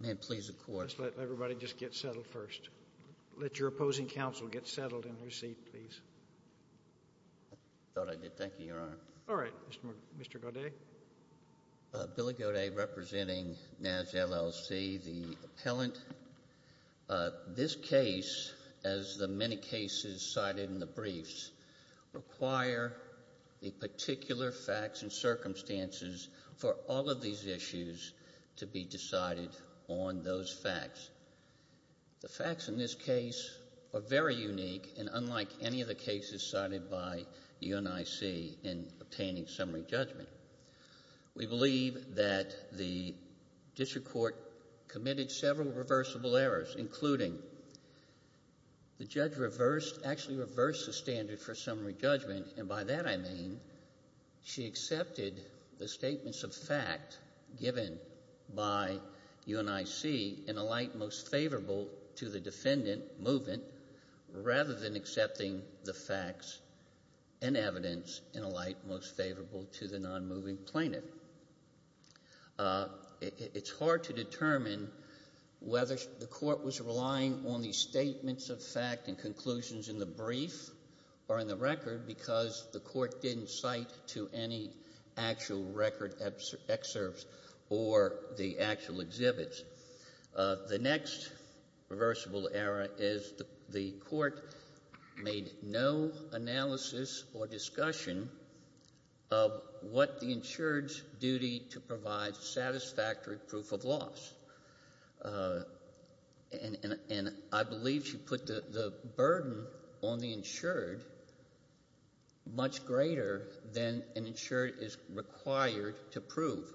May it please the Court, Mr. Chairman, it is an honor to serve under your chairmanship. I'll let everybody just get settled first. Let your opposing counsel get settled in their seat, please. I thought I did. Thank you, Your Honor. All right. Mr. Godet. Billy Godet, representing NASS, L.L.C., the appellant. This case, as the many cases cited in the briefs, require the particular facts and circumstances for all of these issues to be decided on those facts. The facts in this case are very unique and unlike any of the cases cited by UNIC in obtaining summary judgment. We believe that the district court committed several reversible errors, including the judge actually reversed the standard for summary judgment. And by that I mean she accepted the statements of fact given by UNIC in a light most favorable to the defendant, movement, rather than accepting the facts and evidence in a light most favorable to the non-moving plaintiff. It's hard to determine whether the court was relying on the statements of fact and conclusions in the brief or in the record because the court didn't cite to any actual record excerpts or the actual exhibits. The next reversible error is the court made no analysis or discussion of what the insured's duty to provide satisfactory proof of loss. And I believe she put the burden on the insured much greater than an insured is required to prove.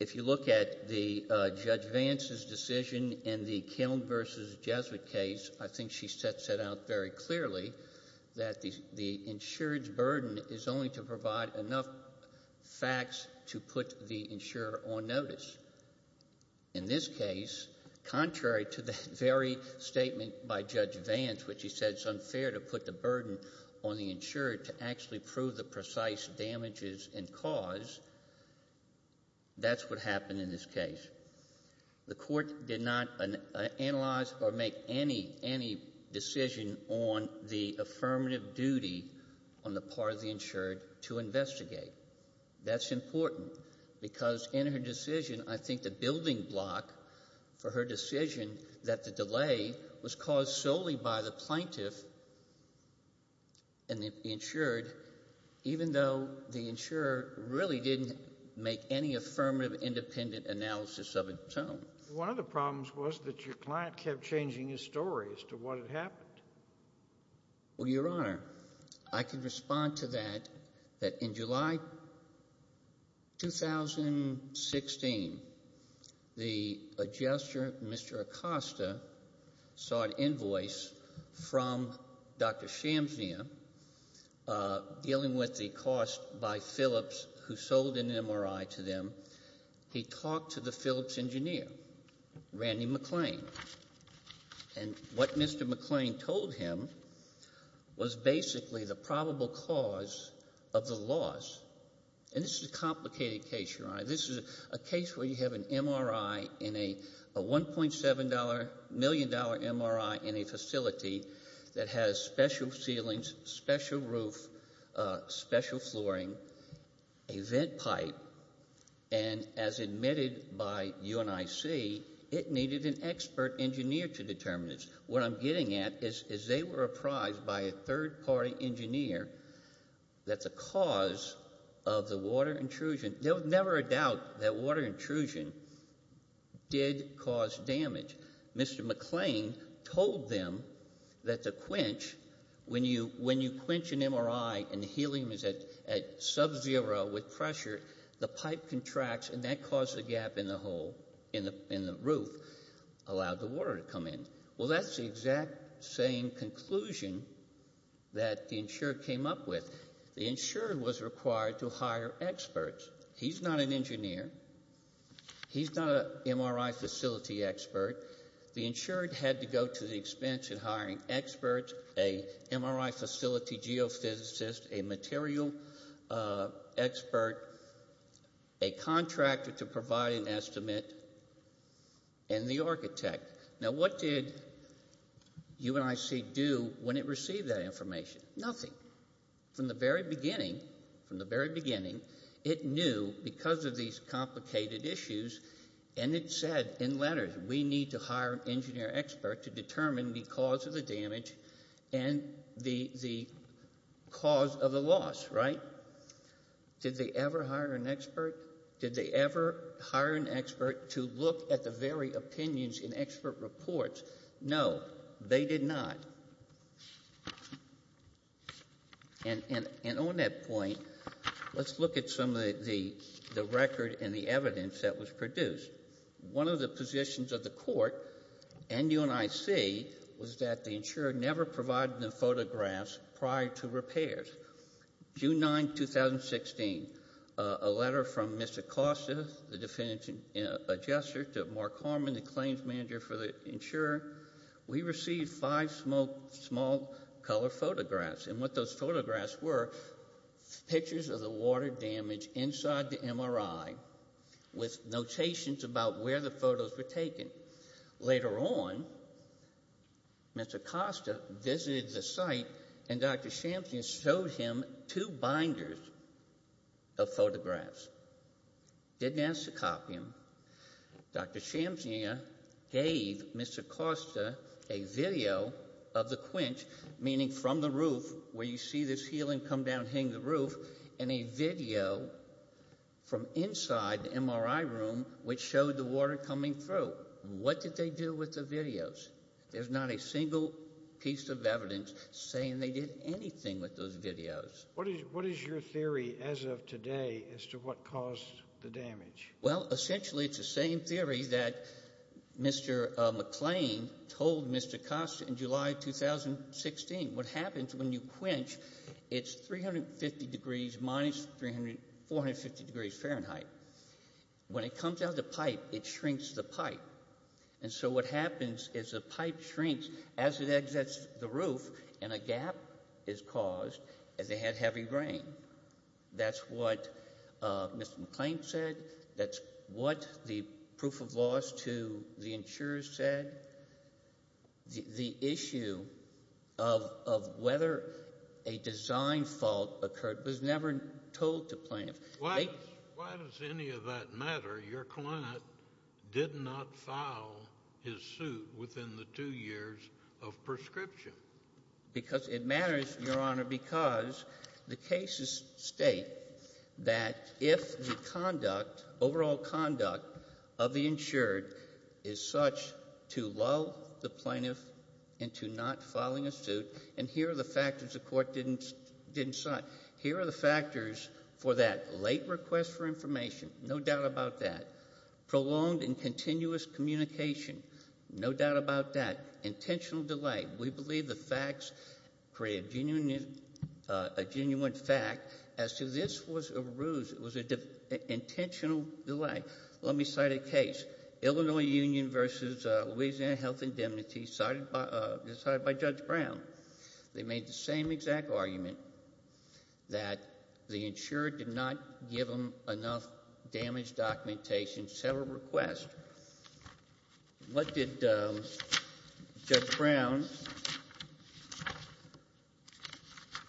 If you look at the Judge Vance's decision in the Kiln versus Jesuit case, I think she sets it out very clearly that the insured's burden is only to provide enough facts to put the insurer on notice. In this case, contrary to the very statement by Judge Vance, which he said it's unfair to put the burden on the insured to actually prove the precise damages and cause, that's what happened in this case. The court did not analyze or make any decision on the affirmative duty on the part of the insured to investigate. That's important because in her decision, I think the building block for her decision that the delay was caused solely by the plaintiff and the insured, even though the insurer really didn't make any affirmative independent analysis of its own. One of the problems was that your client kept changing his story as to what had happened. Well, Your Honor, I can respond to that, that in July 2016, the adjuster, Mr. Acosta, saw an invoice from Dr. Shamsnia dealing with the cost by Phillips who sold an MRI to them. He talked to the Phillips engineer, Randy McClain, and what Mr. McClain told him was basically the probable cause of the loss. And this is a complicated case, Your Honor. This is a case where you have an MRI in a $1.7 million MRI in a facility that has special ceilings, special roof, special flooring, a vent pipe, and as admitted by UNIC, it needed an expert engineer to determine this. What I'm getting at is they were apprised by a third-party engineer that the cause of the water intrusion, there was never a doubt that water intrusion did cause damage. Mr. McClain told them that the quench, when you quench an MRI and the helium is at subzero with pressure, the pipe contracts and that caused a gap in the hole in the roof, allowed the water to come in. Well, that's the exact same conclusion that the insurer came up with. The insurer was required to hire experts. He's not an engineer. He's not an MRI facility expert. The insurer had to go to the expense of hiring experts, an MRI facility geophysicist, a material expert, a contractor to provide an estimate, and the architect. Now, what did UNIC do when it received that information? Nothing. From the very beginning, from the very beginning, it knew because of these complicated issues, and it said in letters, we need to hire an engineer expert to determine the cause of the damage and the cause of the loss, right? Did they ever hire an expert? Did they ever hire an expert to look at the very opinions in expert reports? No, they did not. And on that point, let's look at some of the record and the evidence that was produced. One of the positions of the court and UNIC was that the insurer never provided them photographs prior to repairs. June 9, 2016, a letter from Mr. Costa, the definitive adjuster, to Mark Harmon, the claims manager for the insurer. We received five small color photographs. And what those photographs were, pictures of the water damage inside the MRI with notations about where the photos were taken. Later on, Mr. Costa visited the site, and Dr. Shamsian showed him two binders of photographs. Didn't ask to copy them. Dr. Shamsian gave Mr. Costa a video of the quench, meaning from the roof, where you see this ceiling come down hitting the roof, and a video from inside the MRI room which showed the water coming through. What did they do with the videos? There's not a single piece of evidence saying they did anything with those videos. What is your theory as of today as to what caused the damage? Well, essentially, it's the same theory that Mr. McClain told Mr. Costa in July 2016. What happens when you quench, it's 350 degrees minus 450 degrees Fahrenheit. When it comes out of the pipe, it shrinks the pipe. And so what happens is the pipe shrinks as it exits the roof, and a gap is caused as they had heavy rain. That's what Mr. McClain said. That's what the proof of loss to the insurers said. The issue of whether a design fault occurred was never told to plaintiffs. Why does any of that matter? Your client did not file his suit within the two years of prescription. Because it matters, Your Honor, because the cases state that if the conduct, overall conduct of the insured is such to lull the plaintiff into not filing a suit, and here are the factors the court didn't cite. Here are the factors for that. Late request for information, no doubt about that. Prolonged and continuous communication, no doubt about that. Intentional delay. We believe the facts create a genuine fact as to this was an intentional delay. Let me cite a case, Illinois Union v. Louisiana Health Indemnity, cited by Judge Brown. They made the same exact argument, that the insurer did not give them enough damage documentation. Several requests. What did Judge Brown?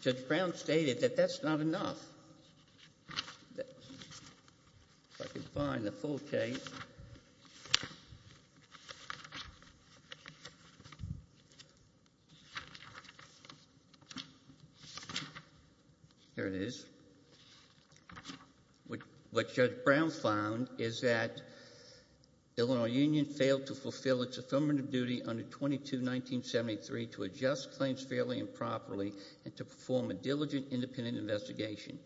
Judge Brown stated that that's not enough. If I can find the full case. There it is. What Judge Brown found is that Illinois Union failed to fulfill its affirmative duty under 22-1973 to adjust claims fairly and properly and to perform a diligent independent investigation.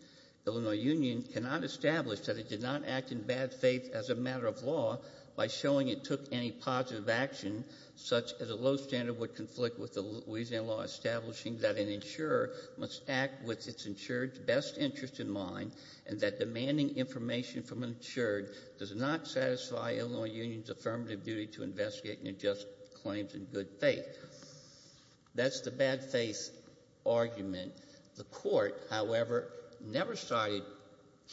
Illinois Union cannot establish that it did not act in bad faith as a matter of law by showing it took any positive action such as a low standard would conflict with the Louisiana law establishing that an insurer must act with its insured's best interest in mind and that demanding information from an insured does not satisfy Illinois Union's affirmative duty to investigate and adjust claims in good faith. That's the bad faith argument. The court, however, never cited,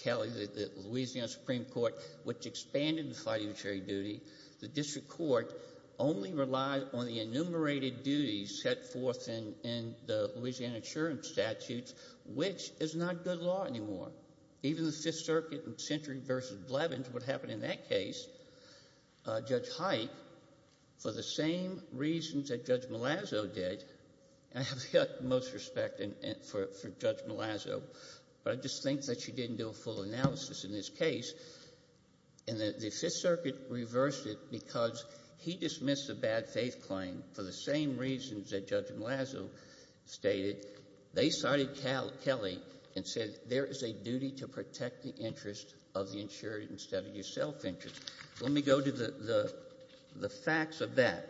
Kelly, the Louisiana Supreme Court, which expanded the fiduciary duty. The district court only relied on the enumerated duties set forth in the Louisiana insurance statutes, which is not good law anymore. Even the Fifth Circuit in Century v. Blevins, what happened in that case, Judge Height, for the same reasons that Judge Malazzo did, and I have the utmost respect for Judge Malazzo, but I just think that she didn't do a full analysis in this case. And the Fifth Circuit reversed it because he dismissed the bad faith claim for the same reasons that Judge Malazzo stated. They cited Kelly and said there is a duty to protect the interest of the insured instead of your self-interest. Let me go to the facts of that.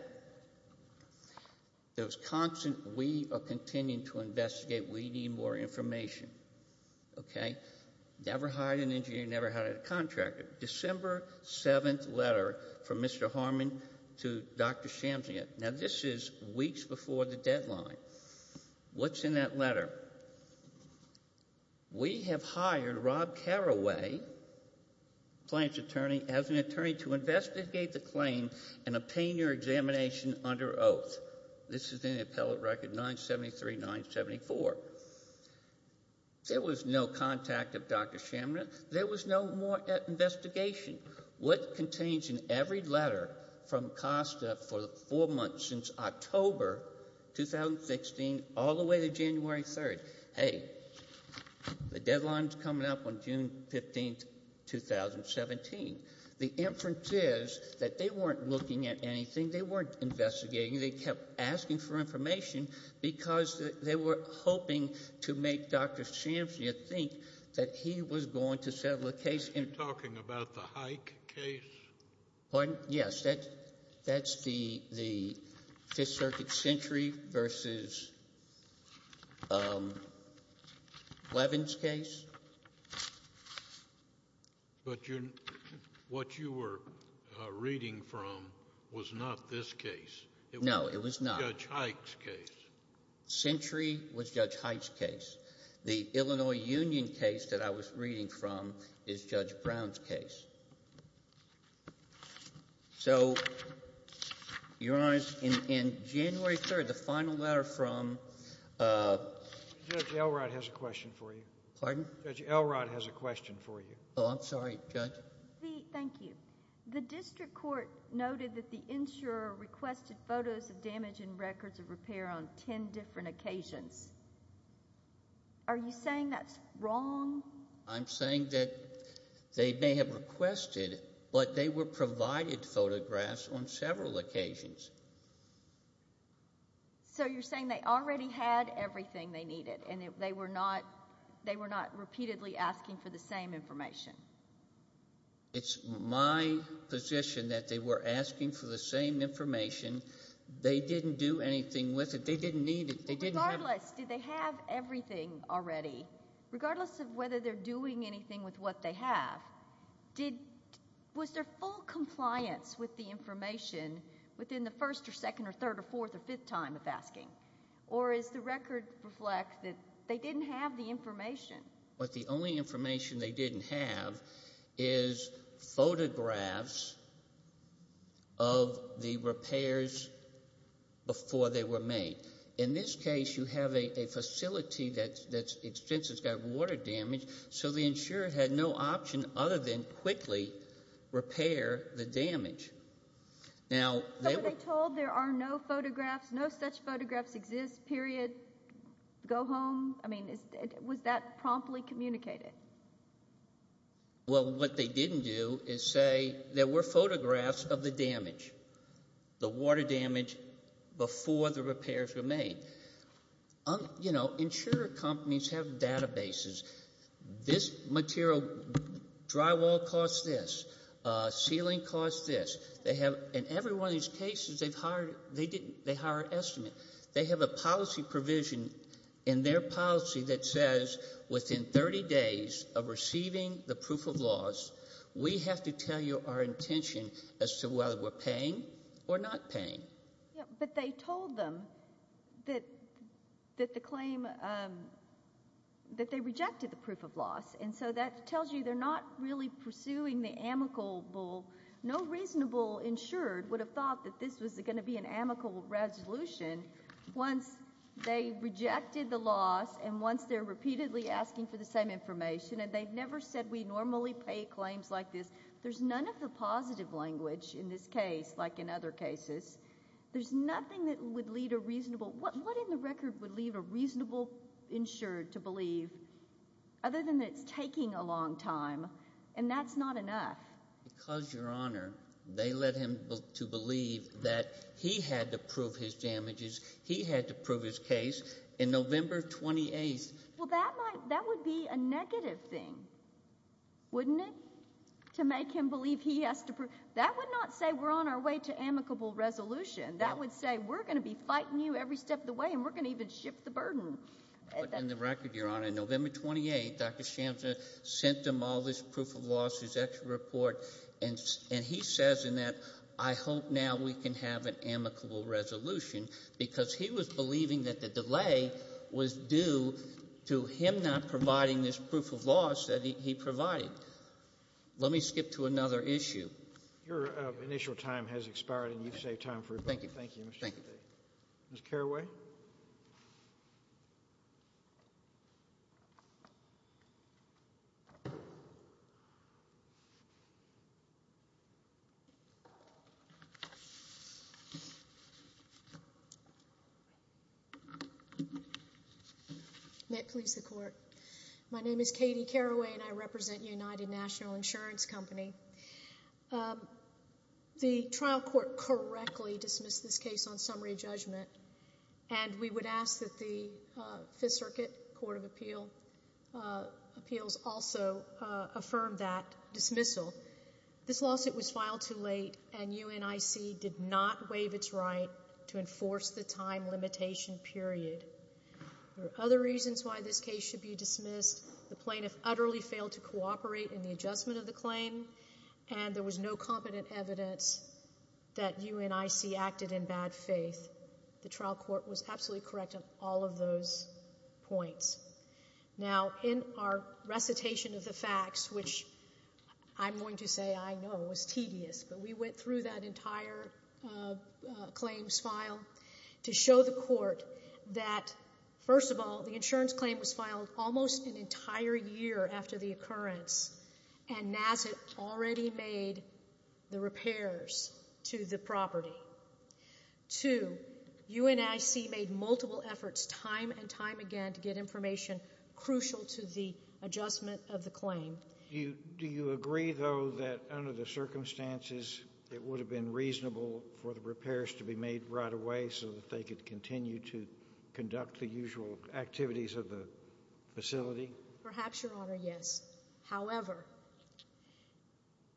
There was constant we are continuing to investigate. We need more information, okay? Never hired an engineer, never hired a contractor. December 7th letter from Mr. Harmon to Dr. Shamsian. Now, this is weeks before the deadline. What's in that letter? We have hired Rob Carraway, client's attorney, as an attorney to investigate the claim and obtain your examination under oath. This is in the appellate record 973-974. There was no contact of Dr. Shamsian. There was no more investigation. What contains in every letter from COSTA for the four months since October 2016 all the way to January 3rd? Hey, the deadline's coming up on June 15th, 2017. The inference is that they weren't looking at anything. They weren't investigating. They kept asking for information because they were hoping to make Dr. Shamsian think that he was going to settle a case. Are you talking about the Hike case? Pardon? Yes. That's the Fifth Circuit sentry versus Levin's case. But what you were reading from was not this case. No, it was not. It was Judge Hike's case. Sentry was Judge Hike's case. The Illinois Union case that I was reading from is Judge Brown's case. So, Your Honor, in January 3rd, the final letter from — Judge Elrod has a question for you. Pardon? Judge Elrod has a question for you. Oh, I'm sorry. Judge? Thank you. The district court noted that the insurer requested photos of damage and records of repair on ten different occasions. Are you saying that's wrong? I'm saying that they may have requested, but they were provided photographs on several occasions. So you're saying they already had everything they needed and they were not repeatedly asking for the same information? It's my position that they were asking for the same information. They didn't do anything with it. They didn't need it. Regardless, did they have everything already? Regardless of whether they're doing anything with what they have, was there full compliance with the information within the first or second or third or fourth or fifth time of asking? Or does the record reflect that they didn't have the information? The only information they didn't have is photographs of the repairs before they were made. In this case, you have a facility that's expensive, it's got water damage, so the insurer had no option other than quickly repair the damage. So when they told there are no photographs, no such photographs exist, period, go home, I mean, was that promptly communicated? Well, what they didn't do is say there were photographs of the damage, the water damage before the repairs were made. You know, insurer companies have databases. This material, drywall costs this, ceiling costs this. In every one of these cases, they hire an estimate. They have a policy provision in their policy that says within 30 days of receiving the proof of loss, we have to tell you our intention as to whether we're paying or not paying. But they told them that the claim, that they rejected the proof of loss. And so that tells you they're not really pursuing the amicable. No reasonable insurer would have thought that this was going to be an amicable resolution once they rejected the loss and once they're repeatedly asking for the same information. And they've never said we normally pay claims like this. There's none of the positive language in this case like in other cases. There's nothing that would lead a reasonable – what in the record would lead a reasonable insurer to believe other than that it's taking a long time and that's not enough? Because, Your Honor, they led him to believe that he had to prove his damages, he had to prove his case in November 28th. Well, that might – that would be a negative thing, wouldn't it, to make him believe he has to prove – that would not say we're on our way to amicable resolution. That would say we're going to be fighting you every step of the way and we're going to even shift the burden. But in the record, Your Honor, November 28th, Dr. Shamsa sent them all this proof of loss, his extra report, and he says in that I hope now we can have an amicable resolution because he was believing that the delay was due to him not providing this proof of loss that he provided. Let me skip to another issue. Your initial time has expired and you've saved time for everybody. Thank you. Thank you, Mr. Kennedy. Ms. Carraway? May it please the Court. My name is Katie Carraway and I represent United National Insurance Company. The trial court correctly dismissed this case on summary judgment and we would ask that the Fifth Circuit Court of Appeals also affirm that dismissal. This lawsuit was filed too late and UNIC did not waive its right to enforce the time limitation period. There are other reasons why this case should be dismissed. The plaintiff utterly failed to cooperate in the adjustment of the claim and there was no competent evidence that UNIC acted in bad faith. The trial court was absolutely correct on all of those points. Now, in our recitation of the facts, which I'm going to say I know was tedious, but we went through that entire claims file to show the court that, first of all, the insurance claim was filed almost an entire year after the occurrence and NASA already made the repairs to the property. Two, UNIC made multiple efforts time and time again to get information crucial to the adjustment of the claim. Do you agree, though, that under the circumstances it would have been reasonable for the repairs to be made right away so that they could continue to conduct the usual activities of the facility? Perhaps, Your Honor, yes. However,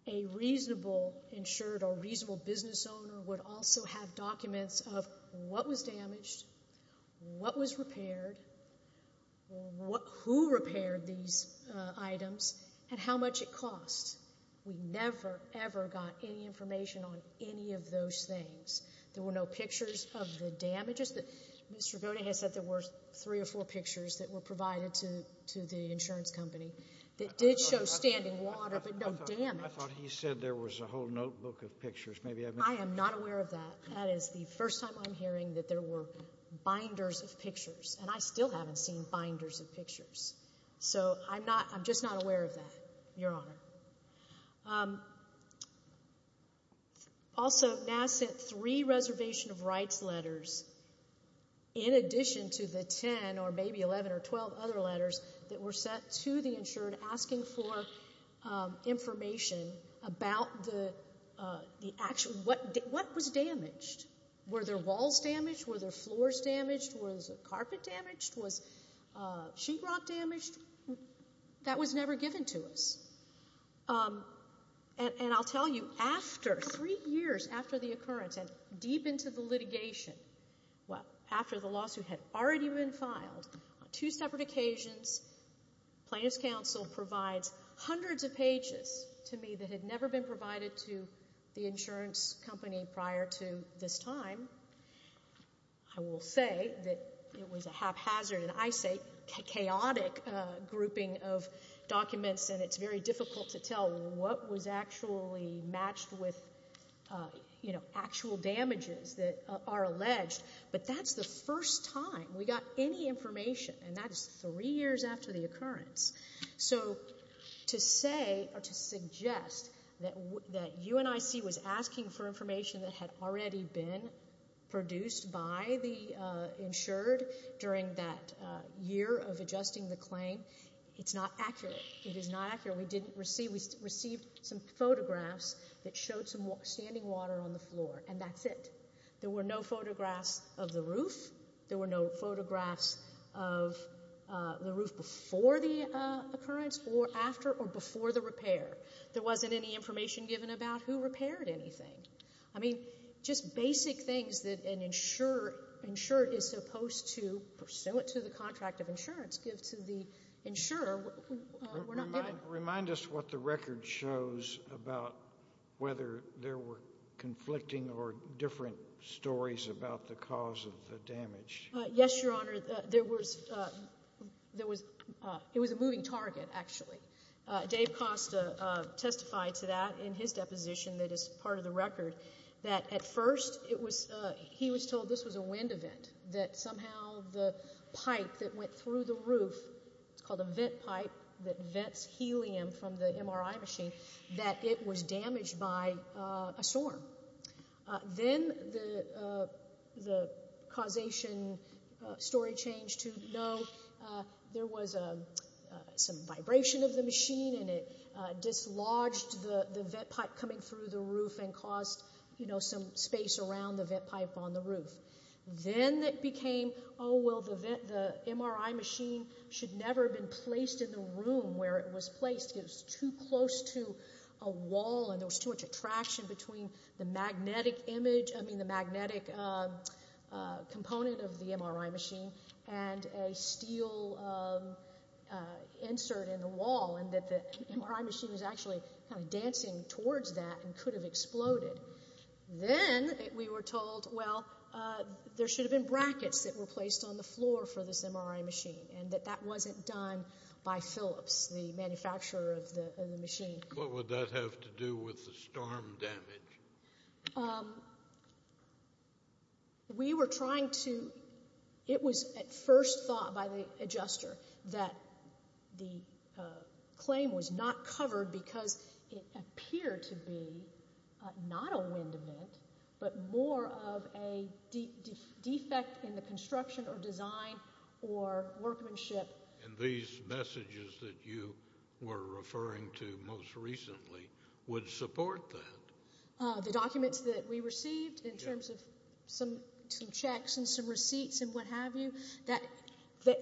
a reasonable insured or reasonable business owner would also have documents of what was damaged, what was repaired, who repaired these items, and how much it cost. We never, ever got any information on any of those things. There were no pictures of the damages. Mr. Bote has said there were three or four pictures that were provided to the insurance company that did show standing water, but no damage. I thought he said there was a whole notebook of pictures. I am not aware of that. That is the first time I'm hearing that there were binders of pictures, and I still haven't seen binders of pictures. So I'm just not aware of that, Your Honor. Also, NASS sent three reservation of rights letters in addition to the 10 or maybe 11 or 12 other letters that were sent to the insured asking for information about what was damaged. Were their walls damaged? Were their floors damaged? Was the carpet damaged? Was sheetrock damaged? That was never given to us. And I'll tell you, after three years after the occurrence and deep into the litigation, well, after the lawsuit had already been filed, on two separate occasions, Plaintiff's Counsel provides hundreds of pages to me that had never been provided to the insurance company prior to this time. I will say that it was a haphazard, and I say chaotic, grouping of documents, and it's very difficult to tell what was actually matched with actual damages that are alleged. But that's the first time we got any information, and that is three years after the occurrence. So to say or to suggest that UNIC was asking for information that had already been produced by the insured during that year of adjusting the claim, it's not accurate. It is not accurate. We received some photographs that showed some standing water on the floor, and that's it. There were no photographs of the roof before the occurrence or after or before the repair. There wasn't any information given about who repaired anything. I mean, just basic things that an insurer is supposed to, pursuant to the contract of insurance, give to the insurer. Remind us what the record shows about whether there were conflicting or different stories about the cause of the damage. Yes, Your Honor. There was a moving target, actually. Dave Costa testified to that in his deposition that is part of the record, that at first he was told this was a wind event, that somehow the pipe that went through the roof, it's called a vent pipe that vents helium from the MRI machine, that it was damaged by a storm. Then the causation story changed to no. There was some vibration of the machine, and it dislodged the vent pipe coming through the roof and caused some space around the vent pipe on the roof. Then it became, oh, well, the MRI machine should never have been placed in the room where it was placed. It was too close to a wall, and there was too much attraction between the magnetic component of the MRI machine and a steel insert in the wall, and that the MRI machine was actually kind of dancing towards that and could have exploded. Then we were told, well, there should have been brackets that were placed on the floor for this MRI machine, and that that wasn't done by Phillips, the manufacturer of the machine. What would that have to do with the storm damage? We were trying to, it was at first thought by the adjuster that the claim was not covered because it appeared to be not a wind event, but more of a defect in the construction or design or workmanship. And these messages that you were referring to most recently would support that. The documents that we received in terms of some checks and some receipts and what have you,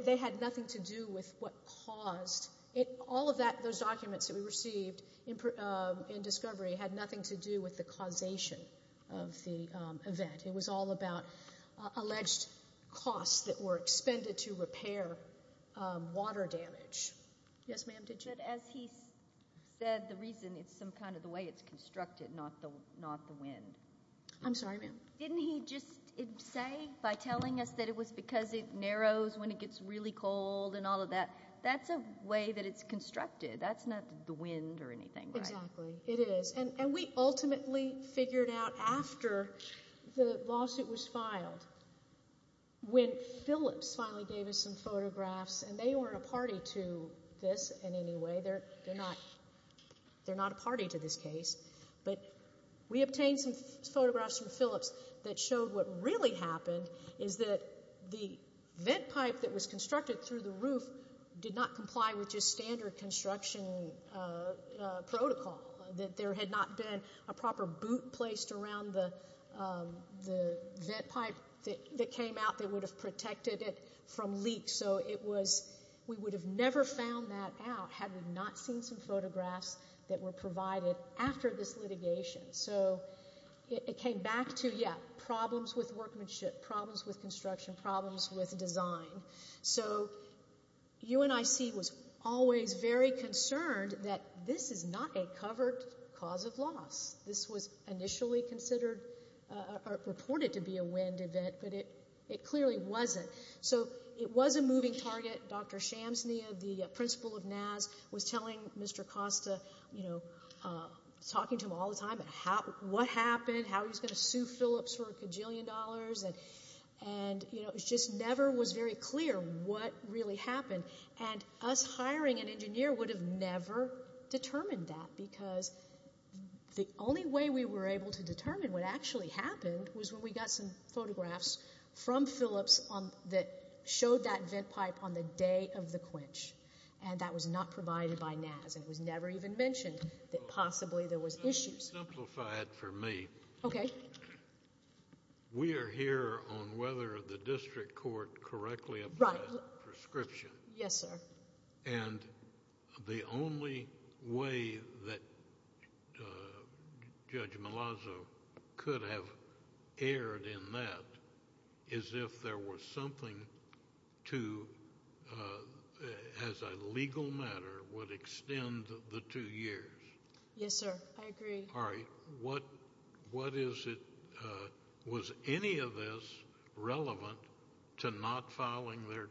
they had nothing to do with what caused it. All of those documents that we received in discovery had nothing to do with the causation of the event. It was all about alleged costs that were expended to repair water damage. Yes, ma'am, did you? But as he said, the reason it's some kind of the way it's constructed, not the wind. I'm sorry, ma'am. Didn't he just say by telling us that it was because it narrows when it gets really cold and all of that, that's a way that it's constructed. That's not the wind or anything, right? Exactly, it is. And we ultimately figured out after the lawsuit was filed, when Phillips finally gave us some photographs, and they weren't a party to this in any way, they're not a party to this case, but we obtained some photographs from Phillips that showed what really happened is that the vent pipe that was constructed through the roof did not comply with just standard construction protocol, that there had not been a proper boot placed around the vent pipe that came out that would have protected it from leaks. So we would have never found that out had we not seen some photographs that were provided after this litigation. So it came back to, yeah, problems with workmanship, problems with construction, problems with design. So UNIC was always very concerned that this is not a covered cause of loss. This was initially considered or reported to be a wind event, but it clearly wasn't. So it was a moving target. Dr. Shamsnia, the principal of NAS, was telling Mr. Costa, you know, talking to him all the time about what happened, how he was going to sue Phillips for a kajillion dollars, and, you know, it just never was very clear what really happened. And us hiring an engineer would have never determined that because the only way we were able to determine what actually happened was when we got some photographs from Phillips that showed that vent pipe on the day of the quench, and that was not provided by NAS, and it was never even mentioned that possibly there was issues. Just to simplify it for me. Okay. We are here on whether the district court correctly applied prescription. Yes, sir. And the only way that Judge Malazzo could have erred in that is if there was something to, as a legal matter, would extend the two years. Yes, sir. I agree. All right. What is it, was any of this relevant to not filing their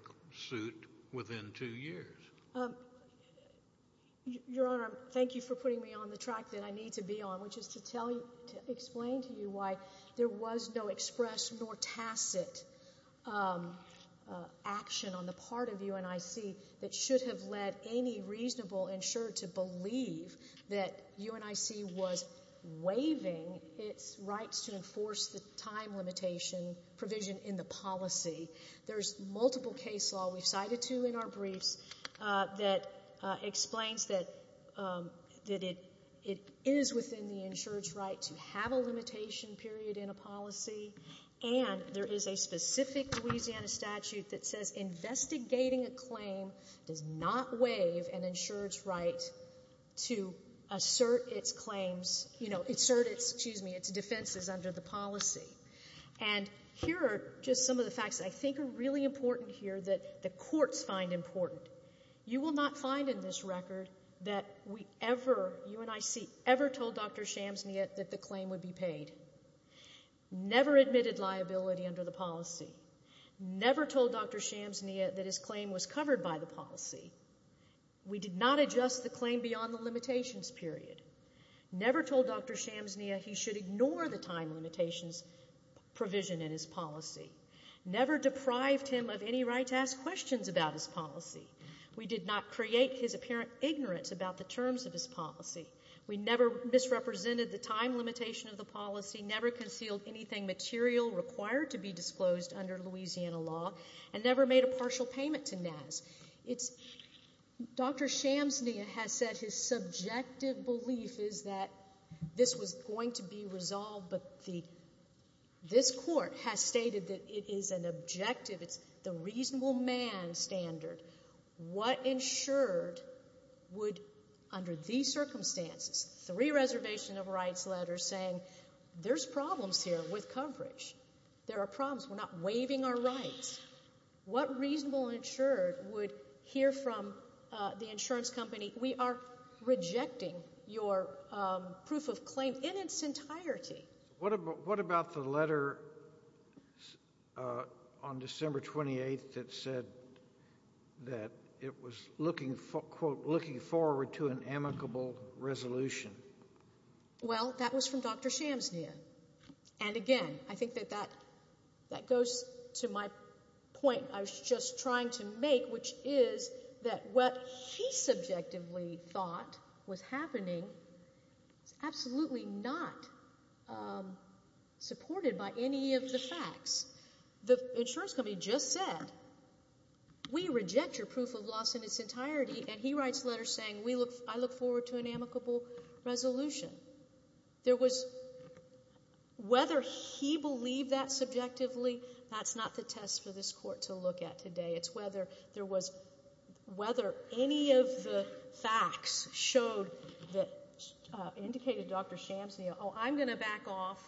suit within two years? Your Honor, thank you for putting me on the track that I need to be on, which is to explain to you why there was no express nor tacit action on the part of UNIC that should have led any reasonable insurer to believe that UNIC was waiving its rights to enforce the time limitation provision in the policy. There's multiple case law we've cited to in our briefs that explains that it is within the insurer's right to have a limitation period in a policy, and there is a specific Louisiana statute that says investigating a claim does not waive an insurer's right to assert its claims, you know, assert its, excuse me, its defenses under the policy. And here are just some of the facts that I think are really important here that the courts find important. You will not find in this record that we ever, UNIC, ever told Dr. Shamsny that the claim would be paid. Never admitted liability under the policy. Never told Dr. Shamsny that his claim was covered by the policy. We did not adjust the claim beyond the limitations period. Never told Dr. Shamsny he should ignore the time limitations provision in his policy. Never deprived him of any right to ask questions about his policy. We did not create his apparent ignorance about the terms of his policy. We never misrepresented the time limitation of the policy. Never concealed anything material required to be disclosed under Louisiana law. And never made a partial payment to NAS. It's, Dr. Shamsny has said his subjective belief is that this was going to be resolved, but the, this court has stated that it is an objective, it's the reasonable man standard. What insured would, under these circumstances, three reservation of rights letters saying, there's problems here with coverage. There are problems. We're not waiving our rights. What reasonable insured would hear from the insurance company, we are rejecting your proof of claim in its entirety. What about the letter on December 28th that said that it was looking, quote, looking forward to an amicable resolution? Well, that was from Dr. Shamsny. And, again, I think that that goes to my point I was just trying to make, which is that what he subjectively thought was happening is absolutely not supported by any of the facts. The insurance company just said, we reject your proof of loss in its entirety, and he writes a letter saying, I look forward to an amicable resolution. There was, whether he believed that subjectively, that's not the test for this court to look at today. It's whether there was, whether any of the facts showed that indicated Dr. Shamsny, oh, I'm going to back off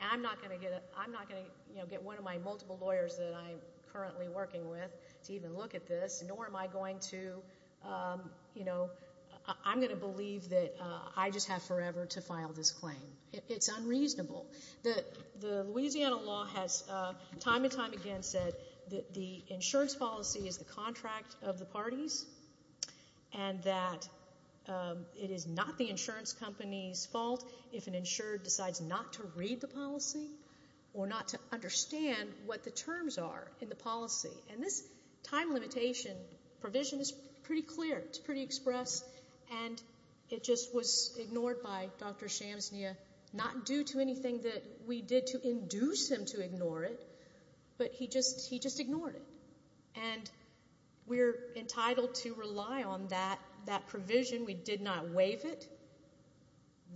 and I'm not going to get one of my multiple lawyers that I'm currently working with to even look at this, nor am I going to, you know, I'm going to believe that I just have forever to file this claim. It's unreasonable. The Louisiana law has time and time again said that the insurance policy is the contract of the parties and that it is not the insurance company's fault if an insured decides not to read the policy or not to understand what the terms are in the policy. And this time limitation provision is pretty clear. It's pretty expressed. And it just was ignored by Dr. Shamsny, not due to anything that we did to induce him to ignore it, but he just ignored it. And we're entitled to rely on that provision. We did not waive it.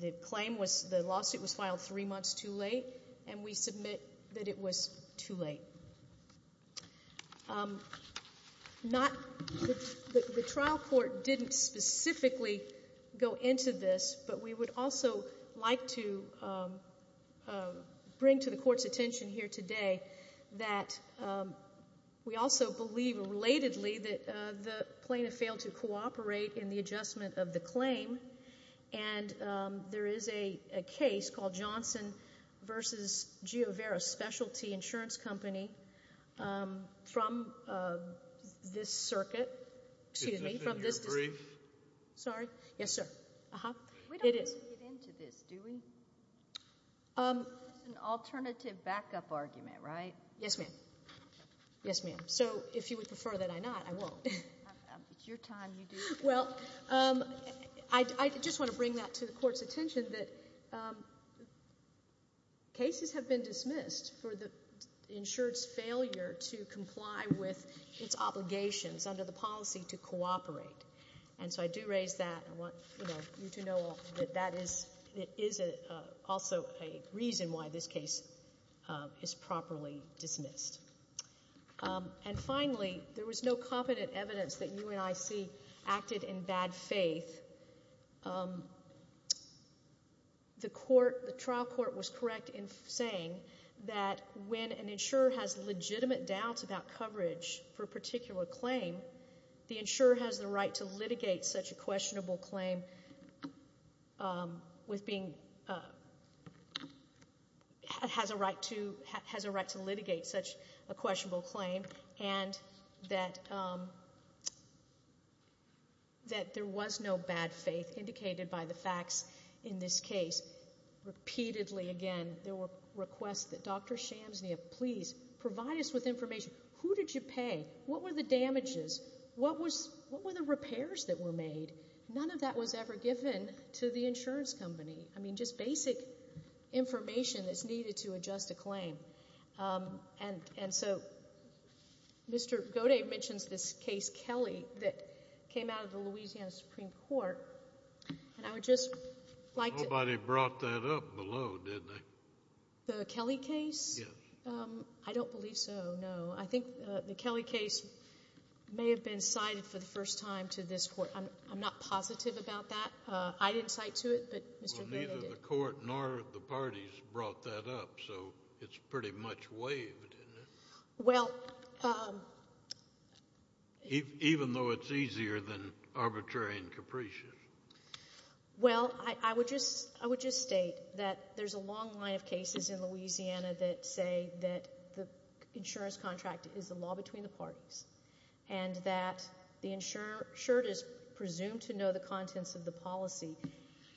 The claim was, the lawsuit was filed three months too late, and we submit that it was too late. The trial court didn't specifically go into this, but we would also like to bring to the Court's attention here today that we also believe relatedly that the plaintiff failed to cooperate in the adjustment of the claim. And there is a case called Johnson v. Giovera Specialty Insurance Company from this circuit. Excuse me. Is this in your brief? Sorry? Yes, sir. It is. We don't need to get into this, do we? This is an alternative backup argument, right? Yes, ma'am. Yes, ma'am. So if you would prefer that I not, I won't. It's your time. Well, I just want to bring that to the Court's attention, that cases have been dismissed for the insured's failure to comply with its obligations under the policy to cooperate. And so I do raise that. I want you to know that that is also a reason why this case is properly dismissed. And finally, there was no competent evidence that UNIC acted in bad faith. The trial court was correct in saying that when an insurer has legitimate doubts about coverage for a particular claim, the insurer has a right to litigate such a questionable claim and that there was no bad faith indicated by the facts in this case. Repeatedly, again, there were requests that, Dr. Shamsnia, please provide us with information. Who did you pay? What were the damages? What were the repairs that were made? None of that was ever given to the insurance company. I mean, just basic information that's needed to adjust a claim. And so Mr. Goday mentions this case, Kelly, that came out of the Louisiana Supreme Court. And I would just like to— Nobody brought that up below, did they? The Kelly case? Yes. I don't believe so, no. I think the Kelly case may have been cited for the first time to this Court. I'm not positive about that. I didn't cite to it, but Mr. Goday did. Well, neither the Court nor the parties brought that up, so it's pretty much waived, isn't it? Well— Even though it's easier than arbitrary and capricious. Well, I would just state that there's a long line of cases in Louisiana that say that the insurance contract is the law between the parties and that the insured is presumed to know the contents of the policy.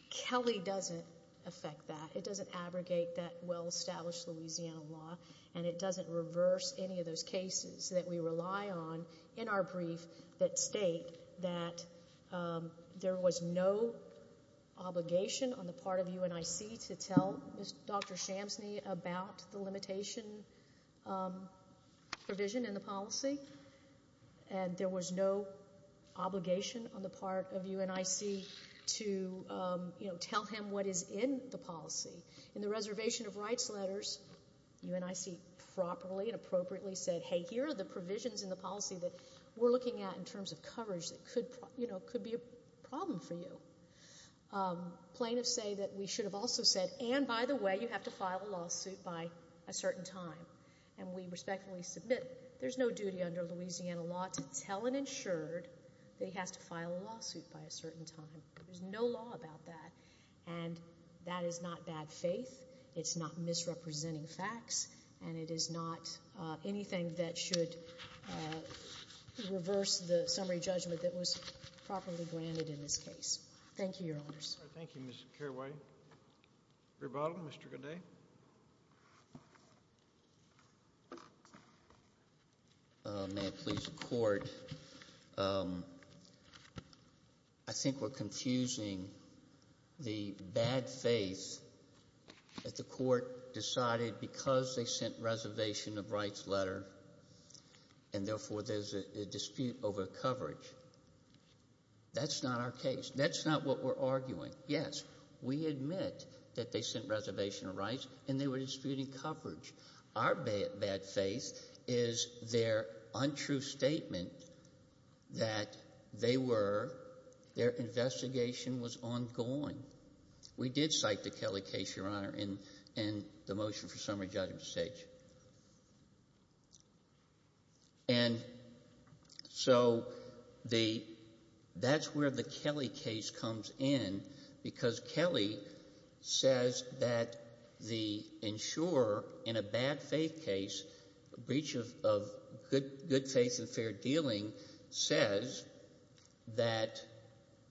Kelly doesn't affect that. It doesn't abrogate that well-established Louisiana law, and it doesn't reverse any of those cases that we rely on in our brief that state that there was no obligation on the part of UNIC to tell Dr. Shamsney about the limitation provision in the policy, and there was no obligation on the part of UNIC to tell him what is in the policy. In the reservation of rights letters, UNIC properly and appropriately said, hey, here are the provisions in the policy that we're looking at in terms of coverage that could be a problem for you. Plaintiffs say that we should have also said, and by the way, you have to file a lawsuit by a certain time, and we respectfully submit there's no duty under Louisiana law to tell an insured that he has to file a lawsuit by a certain time. There's no law about that, and that is not bad faith. It's not misrepresenting facts, and it is not anything that should reverse the summary judgment that was properly granted in this case. Thank you, Your Honors. Thank you, Ms. Caraway. Rebottom, Mr. Gaudet. Thank you, Your Honor. May it please the Court. I think we're confusing the bad faith that the Court decided because they sent reservation of rights letter and therefore there's a dispute over coverage. That's not our case. That's not what we're arguing. Yes, we admit that they sent reservation of rights and they were disputing coverage. Our bad faith is their untrue statement that they were, their investigation was ongoing. We did cite the Kelly case, Your Honor, in the motion for summary judgment stage. And so the, that's where the Kelly case comes in because Kelly says that the insurer in a bad faith case, breach of good faith and fair dealing, says that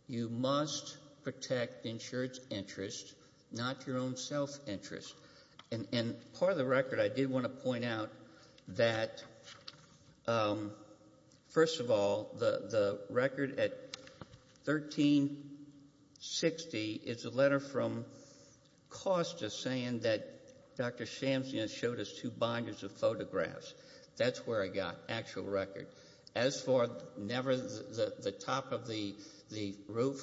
you must protect insured's interest, not your own self-interest. And part of the record I did want to point out that, first of all, the record at 1360 is a letter from Costa saying that Dr. Shamsian showed us two binders of photographs. That's where I got actual record. As for never, the top of the roof,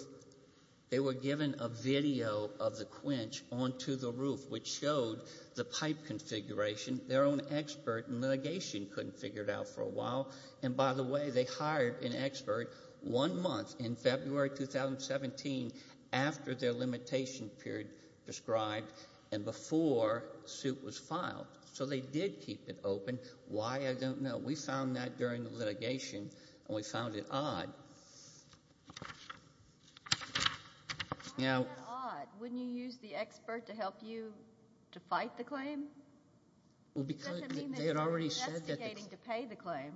they were given a video of the quench onto the roof, which showed the pipe configuration. Their own expert in litigation couldn't figure it out for a while. And by the way, they hired an expert one month in February 2017 after their limitation period prescribed and before suit was filed. So they did keep it open. Why, I don't know. We found that during the litigation, and we found it odd. Why is it odd? Wouldn't you use the expert to help you to fight the claim? It doesn't mean that you're investigating to pay the claim.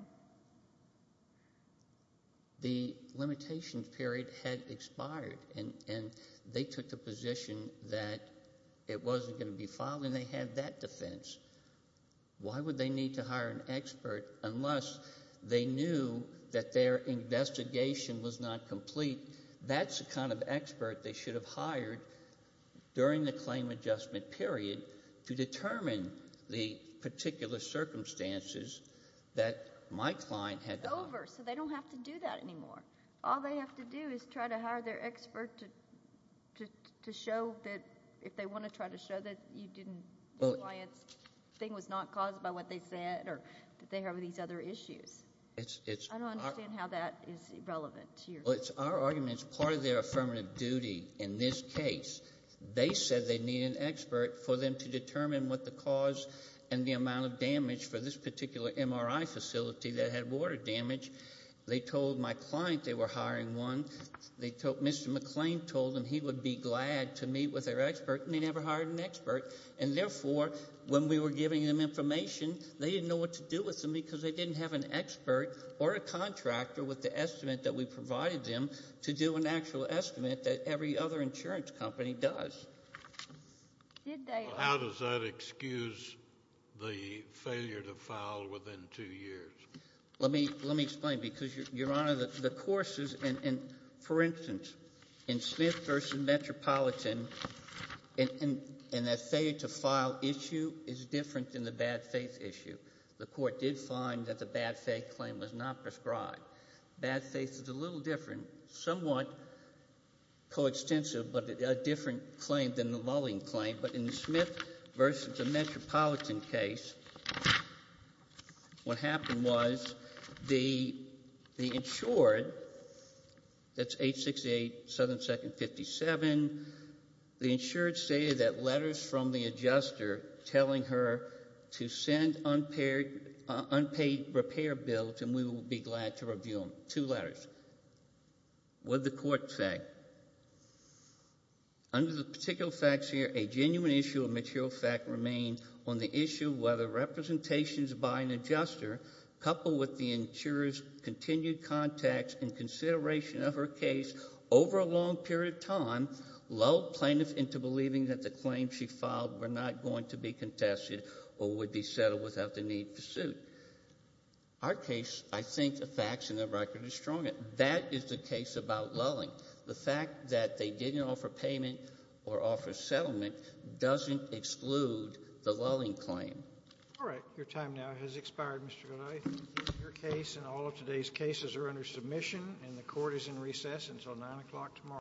The limitation period had expired, and they took the position that it wasn't going to be filed, and they had that defense. Why would they need to hire an expert unless they knew that their investigation was not complete? That's the kind of expert they should have hired during the claim adjustment period to determine the particular circumstances that my client had to hire. It's over, so they don't have to do that anymore. All they have to do is try to hire their expert to show that, if they want to try to show that the client's thing was not caused by what they said or that they have these other issues. I don't understand how that is relevant to your case. Well, it's our argument. It's part of their affirmative duty in this case. They said they need an expert for them to determine what the cause and the amount of damage for this particular MRI facility that had water damage. They told my client they were hiring one. Mr. McClain told them he would be glad to meet with their expert, and they never hired an expert. And therefore, when we were giving them information, they didn't know what to do with them because they didn't have an expert or a contractor with the estimate that we provided them to do an actual estimate that every other insurance company does. How does that excuse the failure to file within two years? Let me explain, because, Your Honor, the courses and, for instance, in Smith v. Metropolitan, in that failure to file issue is different than the bad faith issue. The court did find that the bad faith claim was not prescribed. Bad faith is a little different, somewhat coextensive, but a different claim than the mulling claim. But in the Smith v. Metropolitan case, what happened was the insured, that's 868 Southern 2nd 57, the insured stated that letters from the adjuster telling her to send unpaid repair bills and we will be glad to review them, two letters. What did the court say? Under the particular facts here, a genuine issue of material fact remained on the issue whether representations by an adjuster coupled with the insurer's continued contacts and consideration of her case over a long period of time lulled plaintiffs into believing that the claims she filed were not going to be contested or would be settled without the need for suit. Our case, I think the facts and the record are stronger. But that is the case about lulling. The fact that they didn't offer payment or offer settlement doesn't exclude the lulling claim. All right. Your time now has expired, Mr. Godoy. Your case and all of today's cases are under submission and the court is in recess until 9 o'clock tomorrow.